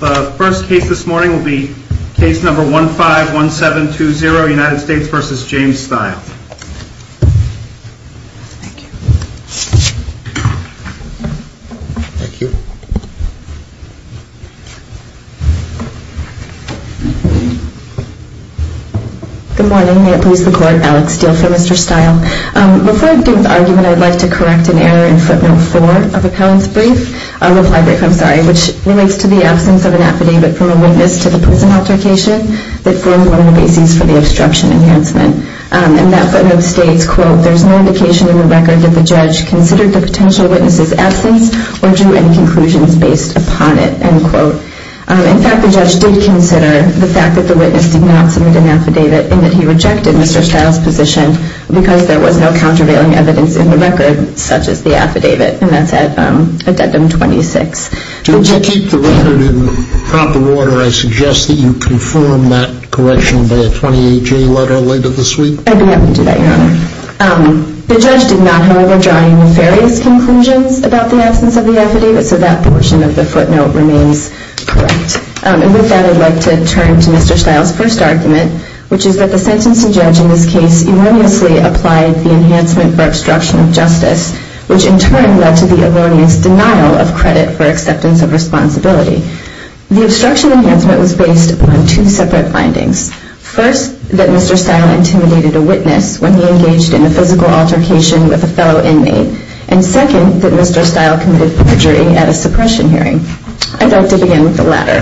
The first case this morning will be case number 151720, United States v. James Stile. Thank you. Thank you. Good morning, may it please the court, Alex Steele for Mr. Stile. Before I begin with the argument, I would like to correct an error in footnote 4 of the appellant's brief, reply brief, I'm sorry, which relates to the absence of an affidavit from a witness to the prison altercation that formed one of the bases for the obstruction enhancement. And that footnote states, quote, there's no indication in the record that the judge considered the potential witness's absence or drew any conclusions based upon it, end quote. In fact, the judge did consider the fact that the witness did not submit an affidavit and that he rejected Mr. Stile's position because there was no countervailing evidence in the record, such as the affidavit, and that's at addendum 26. If you keep the record in proper order, I suggest that you confirm that correction by a 28-J letter later this week. I'd be happy to do that, Your Honor. The judge did not, however, draw any nefarious conclusions about the absence of the affidavit, so that portion of the footnote remains correct. And with that, I'd like to turn to Mr. Stile's first argument, which is that the sentencing judge in this case erroneously applied the enhancement for obstruction of justice, which in turn led to the erroneous denial of credit for acceptance of responsibility. The obstruction enhancement was based on two separate findings. First, that Mr. Stile intimidated a witness when he engaged in a physical altercation with a fellow inmate. And second, that Mr. Stile committed perjury at a suppression hearing. I'd like to begin with the latter.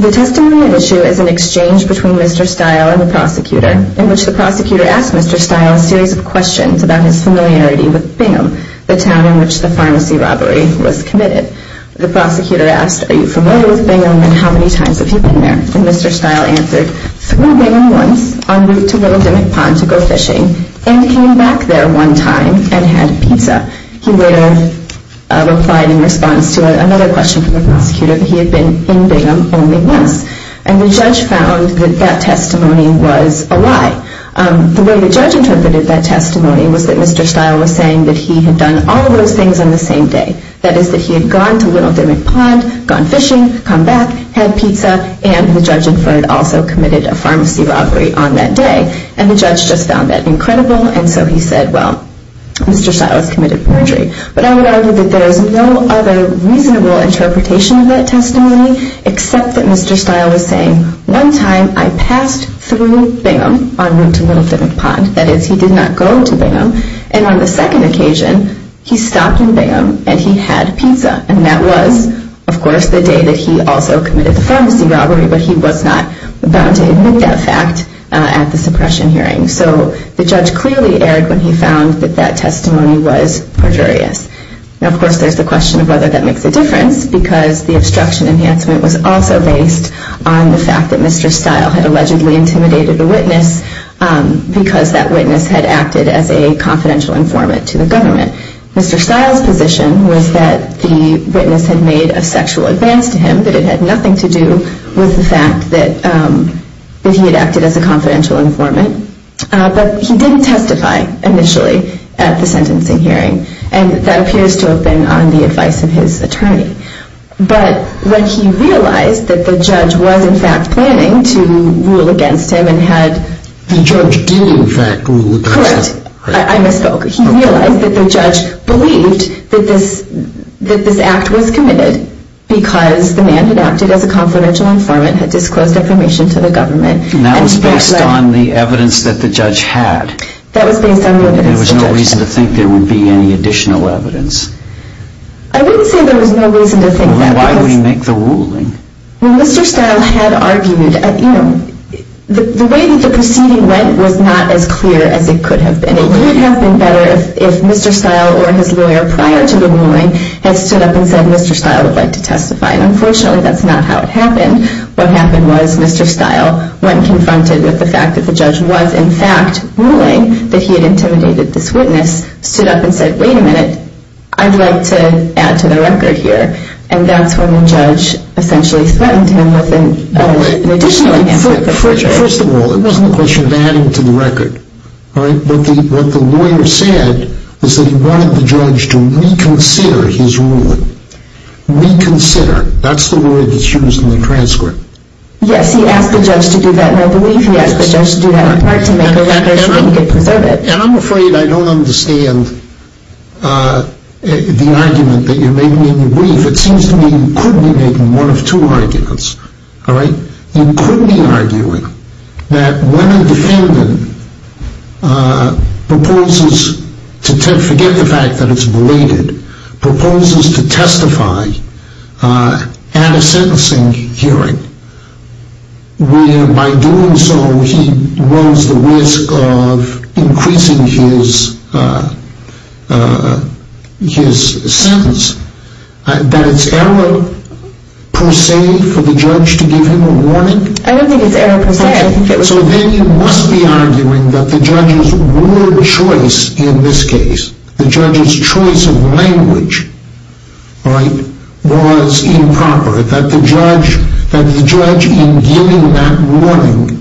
The testimony at issue is an exchange between Mr. Stile and the prosecutor, in which the prosecutor asked Mr. Stile a series of questions about his familiarity with Bingham, the town in which the pharmacy robbery was committed. The prosecutor asked, Are you familiar with Bingham, and how many times have you been there? And Mr. Stile answered, Flew Bingham once, en route to Willow Demick Pond to go fishing, and came back there one time and had pizza. He later replied in response to another question from the prosecutor that he had been in Bingham only once. And the judge found that that testimony was a lie. The way the judge interpreted that testimony was that Mr. Stile was saying that he had done all of those things on the same day. That is, that he had gone to Willow Demick Pond, gone fishing, come back, had pizza, and the judge inferred also committed a pharmacy robbery on that day. And the judge just found that incredible, and so he said, Well, Mr. Stile has committed perjury. But I would argue that there is no other reasonable interpretation of that testimony except that Mr. Stile was saying, One time I passed through Bingham on route to Willow Demick Pond. That is, he did not go to Bingham. And on the second occasion, he stopped in Bingham and he had pizza. And that was, of course, the day that he also committed the pharmacy robbery, but he was not bound to admit that fact at the suppression hearing. So the judge clearly erred when he found that that testimony was perjurious. Now, of course, there is the question of whether that makes a difference, because the obstruction enhancement was also based on the fact that Mr. Stile had allegedly intimidated a witness because that witness had acted as a confidential informant to the government. Mr. Stile's position was that the witness had made a sexual advance to him, that it had nothing to do with the fact that he had acted as a confidential informant. But he didn't testify initially at the sentencing hearing, and that appears to have been on the advice of his attorney. But when he realized that the judge was, in fact, planning to rule against him and had- The judge did, in fact, rule against him. Correct. I misspoke. He realized that the judge believed that this act was committed because the man had acted as a confidential informant, had disclosed information to the government. And that was based on the evidence that the judge had. That was based on the evidence that the judge had. There was no reason to think there would be any additional evidence. I wouldn't say there was no reason to think that, because- Why would he make the ruling? Well, Mr. Stile had argued, you know, the way that the proceeding went was not as clear as it could have been. It would have been better if Mr. Stile or his lawyer prior to the ruling had stood up and said, Mr. Stile would like to testify. And unfortunately, that's not how it happened. What happened was Mr. Stile went confronted with the fact that the judge was, in fact, ruling that he had intimidated this witness, stood up and said, Wait a minute, I'd like to add to the record here. And that's when the judge essentially threatened him with an additional- First of all, it wasn't a question of adding to the record. All right? What the lawyer said was that he wanted the judge to reconsider his ruling. Reconsider. That's the word that's used in the transcript. Yes, he asked the judge to do that. Well, I believe he asked the judge to do that in part to make a record so he could preserve it. And I'm afraid I don't understand the argument that you're making in your brief. All right? You could be arguing that when a defendant proposes to forget the fact that it's belated, proposes to testify at a sentencing hearing where, by doing so, he runs the risk of increasing his sentence, that it's error per se for the judge to give him a warning? I don't think it's error per se. So then you must be arguing that the judge's word choice in this case, the judge's choice of language, right, was improper. That the judge, in giving that warning,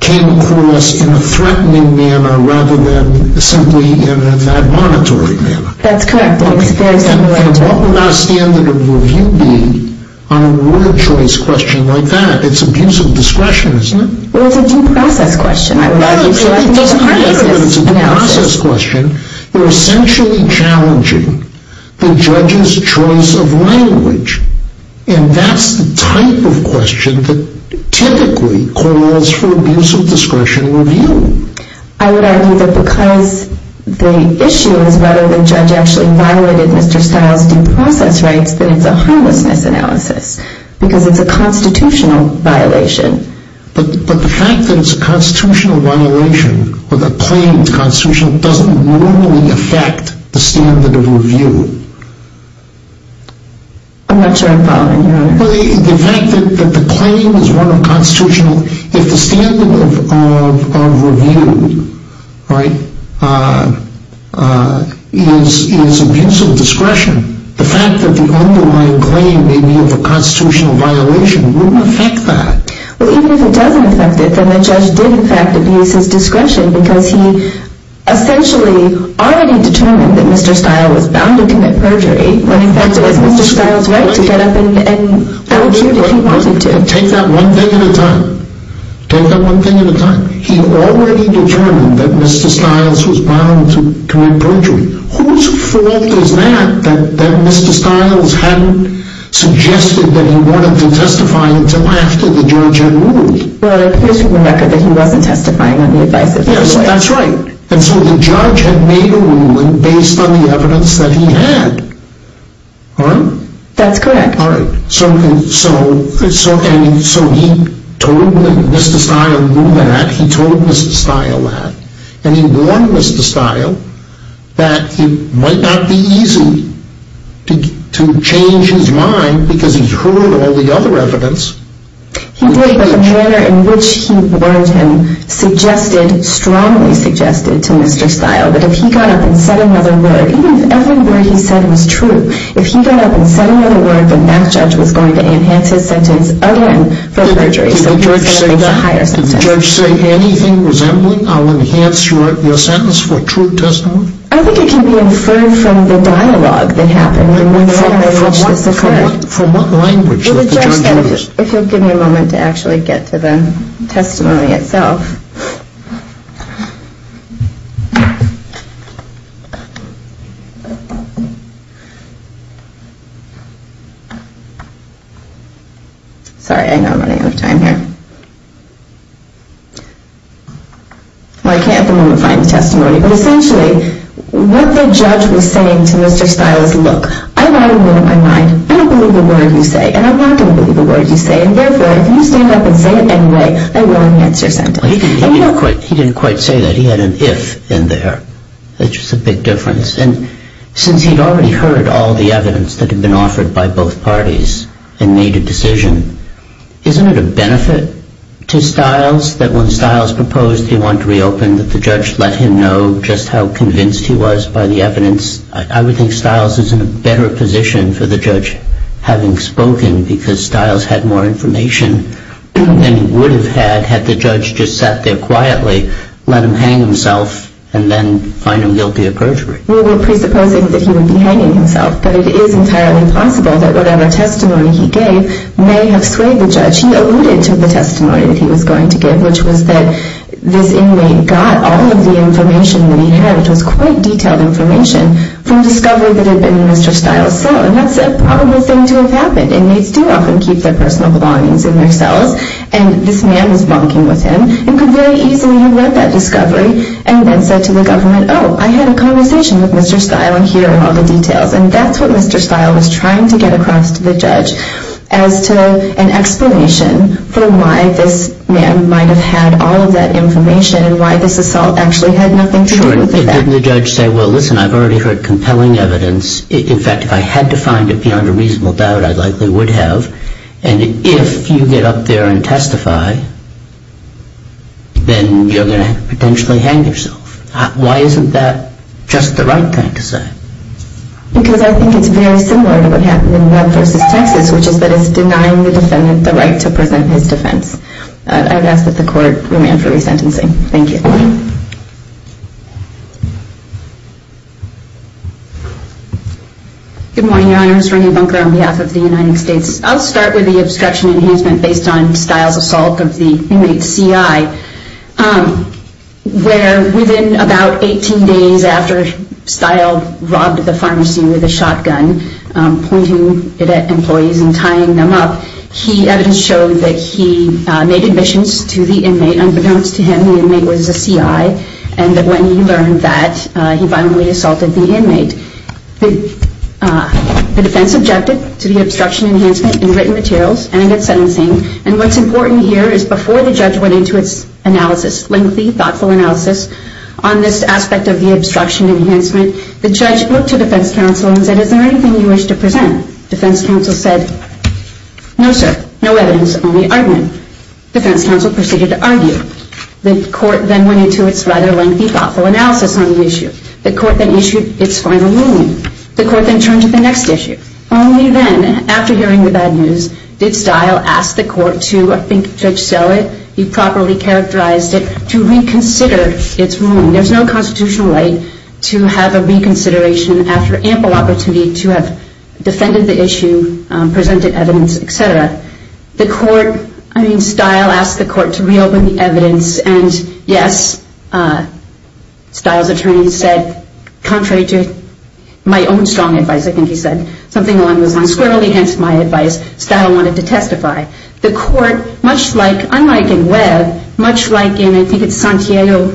came across in a threatening manner rather than simply in an admonitory manner. That's correct. And what would our standard of review be on a word choice question like that? It's abuse of discretion, isn't it? Well, it's a due process question, I would argue. No, it doesn't mean that it's a due process question. You're essentially challenging the judge's choice of language. And that's the type of question that typically calls for abuse of discretion review. I would argue that because the issue is whether the judge actually violated Mr. Stiles' due process rights, that it's a harmlessness analysis because it's a constitutional violation. But the fact that it's a constitutional violation or the claim is constitutional doesn't normally affect the standard of review. Well, the fact that the claim is one of constitutional, if the standard of review, right, is abuse of discretion, the fact that the underlying claim may be of a constitutional violation wouldn't affect that. Well, even if it doesn't affect it, then the judge did, in fact, abuse his discretion because he essentially already determined that Mr. Stiles was bound to commit perjury when he felt it was Mr. Stiles' right to get up and volunteer if he wanted to. Take that one thing at a time. Take that one thing at a time. He already determined that Mr. Stiles was bound to commit perjury. Whose fault is that that Mr. Stiles hadn't suggested that he wanted to testify until after the judge had ruled? Well, it appears from the record that he wasn't testifying on the advice of his lawyer. Yes, that's right. And so the judge had made a ruling based on the evidence that he had, right? That's correct. All right. So he told Mr. Stiles that. He told Mr. Stiles that. And he warned Mr. Stiles that it might not be easy to change his mind because he'd heard all the other evidence. He did, but the manner in which he warned him strongly suggested to Mr. Stiles that if he got up and said another word, even if every word he said was true, if he got up and said another word, then that judge was going to enhance his sentence again for perjury. Did the judge say that? Did the judge say anything resembling, I'll enhance your sentence for true testimony? I think it can be inferred from the dialogue that happened and the manner in which this occurred. Well, the judge said, if you'll give me a moment to actually get to the testimony itself. Sorry, I know I'm running out of time here. Well, I can't at the moment find the testimony, but essentially what the judge was saying to Mr. Stiles, was, look, I've already made up my mind. I don't believe a word you say, and I'm not going to believe a word you say. And therefore, if you stand up and say it anyway, I will enhance your sentence. He didn't quite say that. He had an if in there, which is a big difference. And since he'd already heard all the evidence that had been offered by both parties and made a decision, isn't it a benefit to Stiles that when Stiles proposed he want to reopen, that the judge let him know just how convinced he was by the evidence? I would think Stiles is in a better position for the judge having spoken because Stiles had more information than he would have had had the judge just sat there quietly, let him hang himself, and then find him guilty of perjury. Well, we're presupposing that he would be hanging himself, but it is entirely possible that whatever testimony he gave may have swayed the judge. He alluded to the testimony that he was going to give, which was that this inmate got all of the information that he had. It was quite detailed information from discovery that had been in Mr. Stiles' cell, and that's a probable thing to have happened. Inmates do often keep their personal belongings in their cells, and this man was bunking with him and could very easily have led that discovery and then said to the government, oh, I had a conversation with Mr. Stiles, and here are all the details. And that's what Mr. Stiles was trying to get across to the judge as to an explanation for why this man might have had all of that information and why this assault actually had nothing to do with that. Sure, and didn't the judge say, well, listen, I've already heard compelling evidence. In fact, if I had to find it beyond a reasonable doubt, I likely would have. And if you get up there and testify, then you're going to potentially hang yourself. Why isn't that just the right thing to say? Because I think it's very similar to what happened in Webb v. Texas, which is that it's denying the defendant the right to present his defense. I would ask that the court remand for resentencing. Thank you. Good morning, Your Honors. Renee Bunker on behalf of the United States. I'll start with the obstruction enhancement based on Stiles' assault of the inmate CI, where within about 18 days after Stiles robbed the pharmacy with a shotgun, pointing it at employees and tying them up, evidence showed that he made admissions to the inmate. Unbeknownst to him, the inmate was a CI. And when he learned that, he violently assaulted the inmate. The defense objected to the obstruction enhancement in written materials and against sentencing. And what's important here is before the judge went into its analysis, lengthy, thoughtful analysis, on this aspect of the obstruction enhancement, the judge looked to defense counsel and said, is there anything you wish to present? Defense counsel said, no, sir. No evidence. Only argument. Defense counsel proceeded to argue. The court then went into its rather lengthy, thoughtful analysis on the issue. The court then issued its final ruling. The court then turned to the next issue. Only then, after hearing the bad news, did Stiles ask the court to, I think, judge sell it, be properly characterized it, to reconsider its ruling. There's no constitutional right to have a reconsideration after ample opportunity to have defended the issue, presented evidence, et cetera. The court, I mean, Stiles asked the court to reopen the evidence. And, yes, Stiles' attorney said, contrary to my own strong advice, I think he said, something along those lines, squirrelly against my advice, Stiles wanted to testify. The court, much like, unlike in Webb, much like in, I think it's Santiago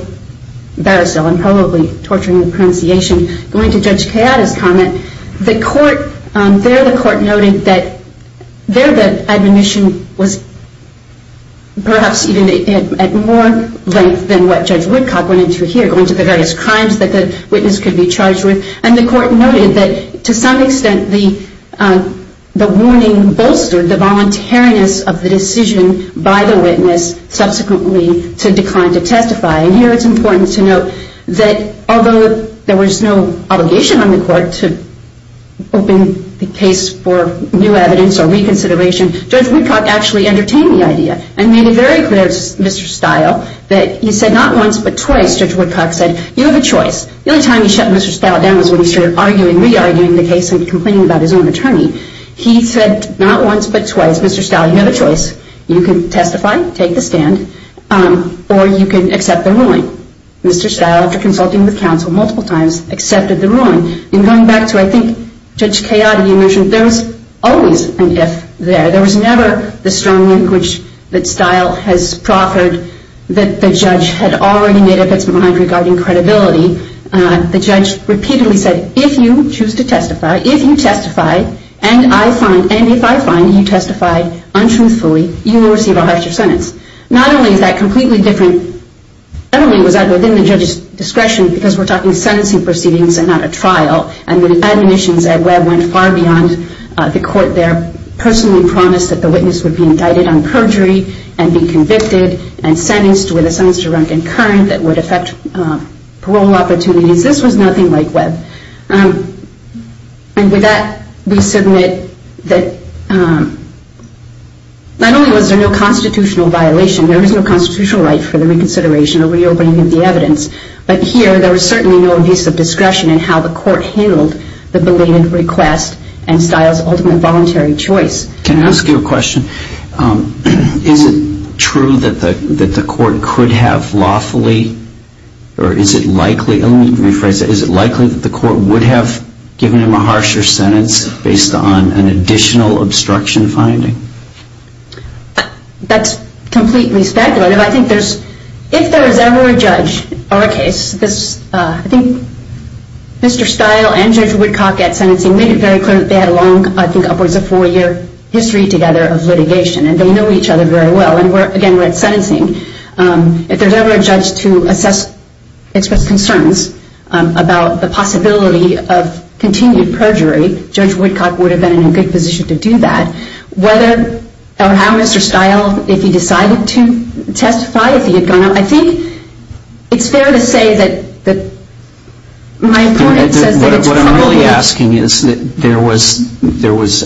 Barrasil, I'm probably torturing the pronunciation, going to Judge Kayada's comment, the court, there the court noted that there the admonition was perhaps even at more length than what Judge Woodcock went into here, going to the various crimes that the witness could be charged with. And the court noted that, to some extent, the warning bolstered the voluntariness of the decision by the witness subsequently to decline to testify. And here it's important to note that, although there was no obligation on the court to open the case for new evidence or reconsideration, Judge Woodcock actually entertained the idea and made it very clear to Mr. Stile that he said not once but twice, Judge Woodcock said, you have a choice. The only time he shut Mr. Stile down was when he started arguing, re-arguing the case and complaining about his own attorney. He said not once but twice, Mr. Stile, you have a choice. You can testify, take the stand, or you can accept the ruling. Mr. Stile, after consulting with counsel multiple times, accepted the ruling. And going back to, I think, Judge Kayada, you mentioned there was always an if there. There was never the strong link which Stile has proffered that the judge had already made up its mind regarding credibility. The judge repeatedly said, if you choose to testify, if you testify and I find, and you testify untruthfully, you will receive a harsher sentence. Not only is that completely different, not only was that within the judge's discretion, because we're talking sentencing proceedings and not a trial, and the admissions at Webb went far beyond the court there, personally promised that the witness would be indicted on perjury and be convicted and sentenced with a sentence to run concurrent that would affect parole opportunities. This was nothing like Webb. And with that, we submit that not only was there no constitutional violation, there was no constitutional right for the reconsideration or reopening of the evidence, but here there was certainly no abuse of discretion in how the court handled the belated request and Stile's ultimate voluntary choice. Can I ask you a question? Is it true that the court could have lawfully, or is it likely, let me rephrase that, is it likely that the court would have given him a harsher sentence based on an additional obstruction finding? That's completely speculative. I think if there was ever a judge or a case, I think Mr. Stile and Judge Woodcock at sentencing made it very clear that they had a long, I think upwards of four-year history together of litigation, and they know each other very well. And again, we're at sentencing. If there's ever a judge to assess, express concerns about the possibility of continued perjury, Judge Woodcock would have been in a good position to do that. Whether or how Mr. Stile, if he decided to testify, if he had gone out, I think it's fair to say that my point says that it's probably... What I'm really asking is that there was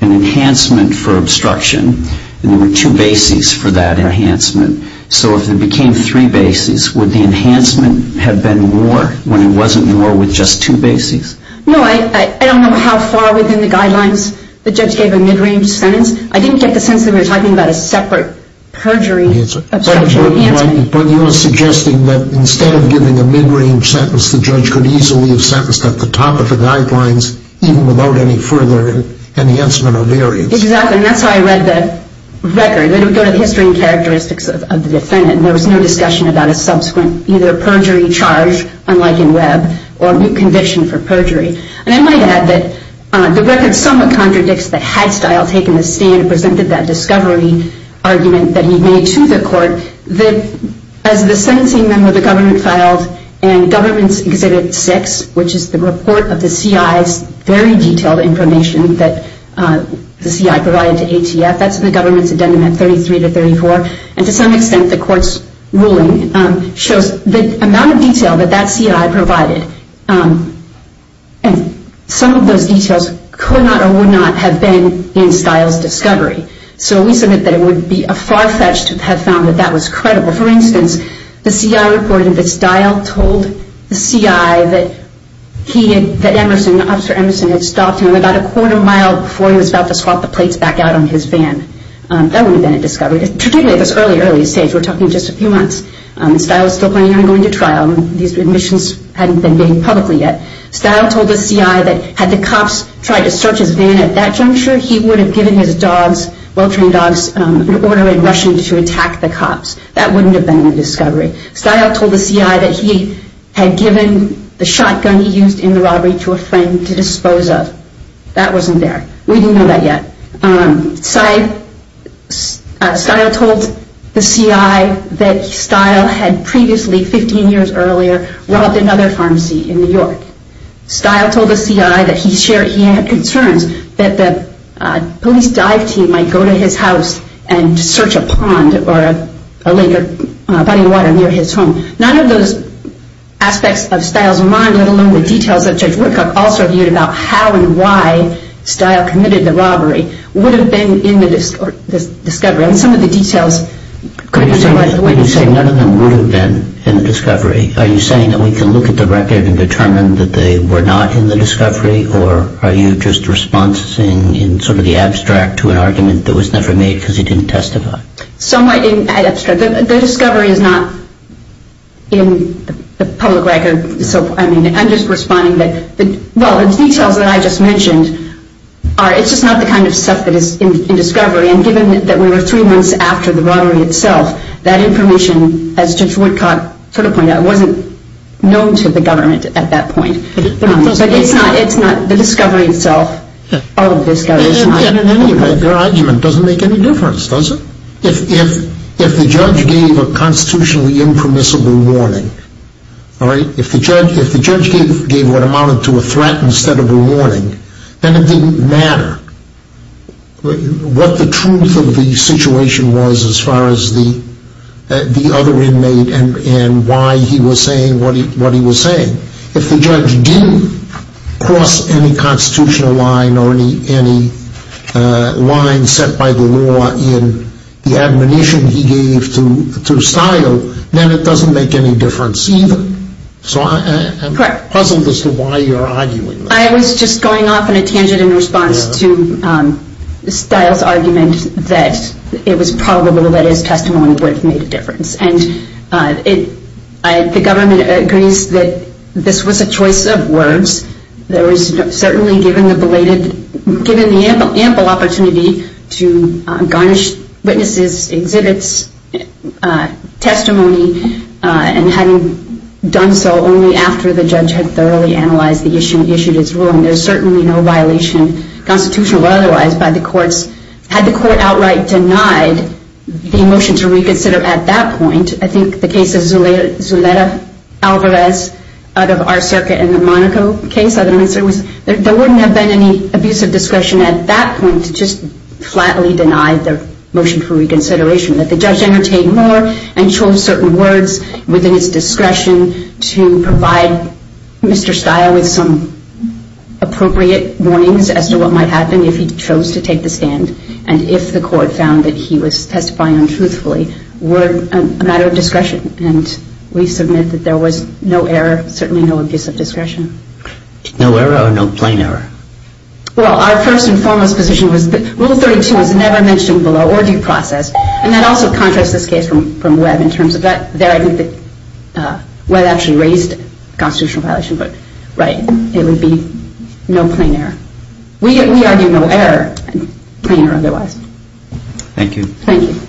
an enhancement for obstruction and there were two bases for that enhancement. So if there became three bases, would the enhancement have been more when it wasn't more with just two bases? No, I don't know how far within the guidelines the judge gave a mid-range sentence. I didn't get the sense that we were talking about a separate perjury obstruction enhancement. But you're suggesting that instead of giving a mid-range sentence, the judge could easily have sentenced at the top of the guidelines even without any further enhancement or variance. Exactly, and that's how I read the record. It would go to the history and characteristics of the defendant, and there was no discussion about a subsequent either perjury charge, unlike in Webb, or a new conviction for perjury. And I might add that the record somewhat contradicts that Hadstile had taken the stand and presented that discovery argument that he made to the court that as the sentencing memo the government filed in Government's Exhibit 6, which is the report of the C.I.'s very detailed information that the C.I. provided to ATF, that's in the government's addendum at 33 to 34, and to some extent the court's ruling shows the amount of detail that that C.I. provided. And some of those details could not or would not have been in Hadstile's discovery. So we submit that it would be a far-fetched to have found that that was credible. For instance, the C.I. reported that Hadstile told the C.I. that he had, that Emerson, Officer Emerson had stopped him about a quarter mile before he was about to swap the plates back out on his van. That would have been a discovery, particularly at this early, early stage. We're talking just a few months. Hadstile was still planning on going to trial. These admissions hadn't been made publicly yet. Hadstile told the C.I. that had the cops tried to search his van at that juncture, he would have given his dogs, well-trained dogs, an order in Russian to attack the cops. That wouldn't have been a discovery. Hadstile told the C.I. that he had given the shotgun he used in the robbery to a friend to dispose of. That wasn't there. We didn't know that yet. Hadstile told the C.I. that Hadstile had previously, 15 years earlier, robbed another pharmacy in New York. Hadstile told the C.I. that he had concerns that the police dive team might go to his house and search a pond or a lake or body of water near his home. None of those aspects of Hadstile's mind, let alone the details that Judge Woodcock also viewed about how and why Hadstile committed the robbery, would have been in the discovery. And some of the details could be summarized. When you say none of them would have been in the discovery, are you saying that we can look at the record and determine that they were not in the discovery, or are you just responsing in sort of the abstract to an argument that was never made because he didn't testify? Somewhat in the abstract. The discovery is not in the public record. I'm just responding that the details that I just mentioned, it's just not the kind of stuff that is in discovery. And given that we were three months after the robbery itself, that information, as Judge Woodcock sort of pointed out, wasn't known to the government at that point. But it's not the discovery itself. Their argument doesn't make any difference, does it? If the judge gave a constitutionally impermissible warning, if the judge gave what amounted to a threat instead of a warning, then it didn't matter what the truth of the situation was as far as the other inmate and why he was saying what he was saying. If the judge did cross any constitutional line or any line set by the law in the admonition he gave to Stile, then it doesn't make any difference either. So I'm puzzled as to why you're arguing that. I was just going off on a tangent in response to Stile's argument that it was probable that his testimony would have made a difference. And the government agrees that this was a choice of words. There was certainly, given the belated, given the ample opportunity to garnish witnesses' exhibits, testimony, and having done so only after the judge had thoroughly analyzed the issue and issued his ruling, there's certainly no violation, constitutional or otherwise, by the courts. Had the court outright denied the motion to reconsider at that point, I think the case of Zuleta Alvarez out of our circuit in the Monaco case, there wouldn't have been any abuse of discretion at that point to just flatly deny the motion for reconsideration. That the judge entertained more and chose certain words within its discretion to provide Mr. Stile with some appropriate warnings as to what might happen if he chose to take the stand and if the court found that he was testifying untruthfully were a matter of discretion. And we submit that there was no error, certainly no abuse of discretion. No error or no plain error? Well, our first and foremost position was that Rule 32 was never mentioned below or due process. And that also contrasts this case from Webb in terms of that. There I think that Webb actually raised a constitutional violation, but right, it would be no plain error. We argue no error, plain error otherwise. Thank you. Thank you.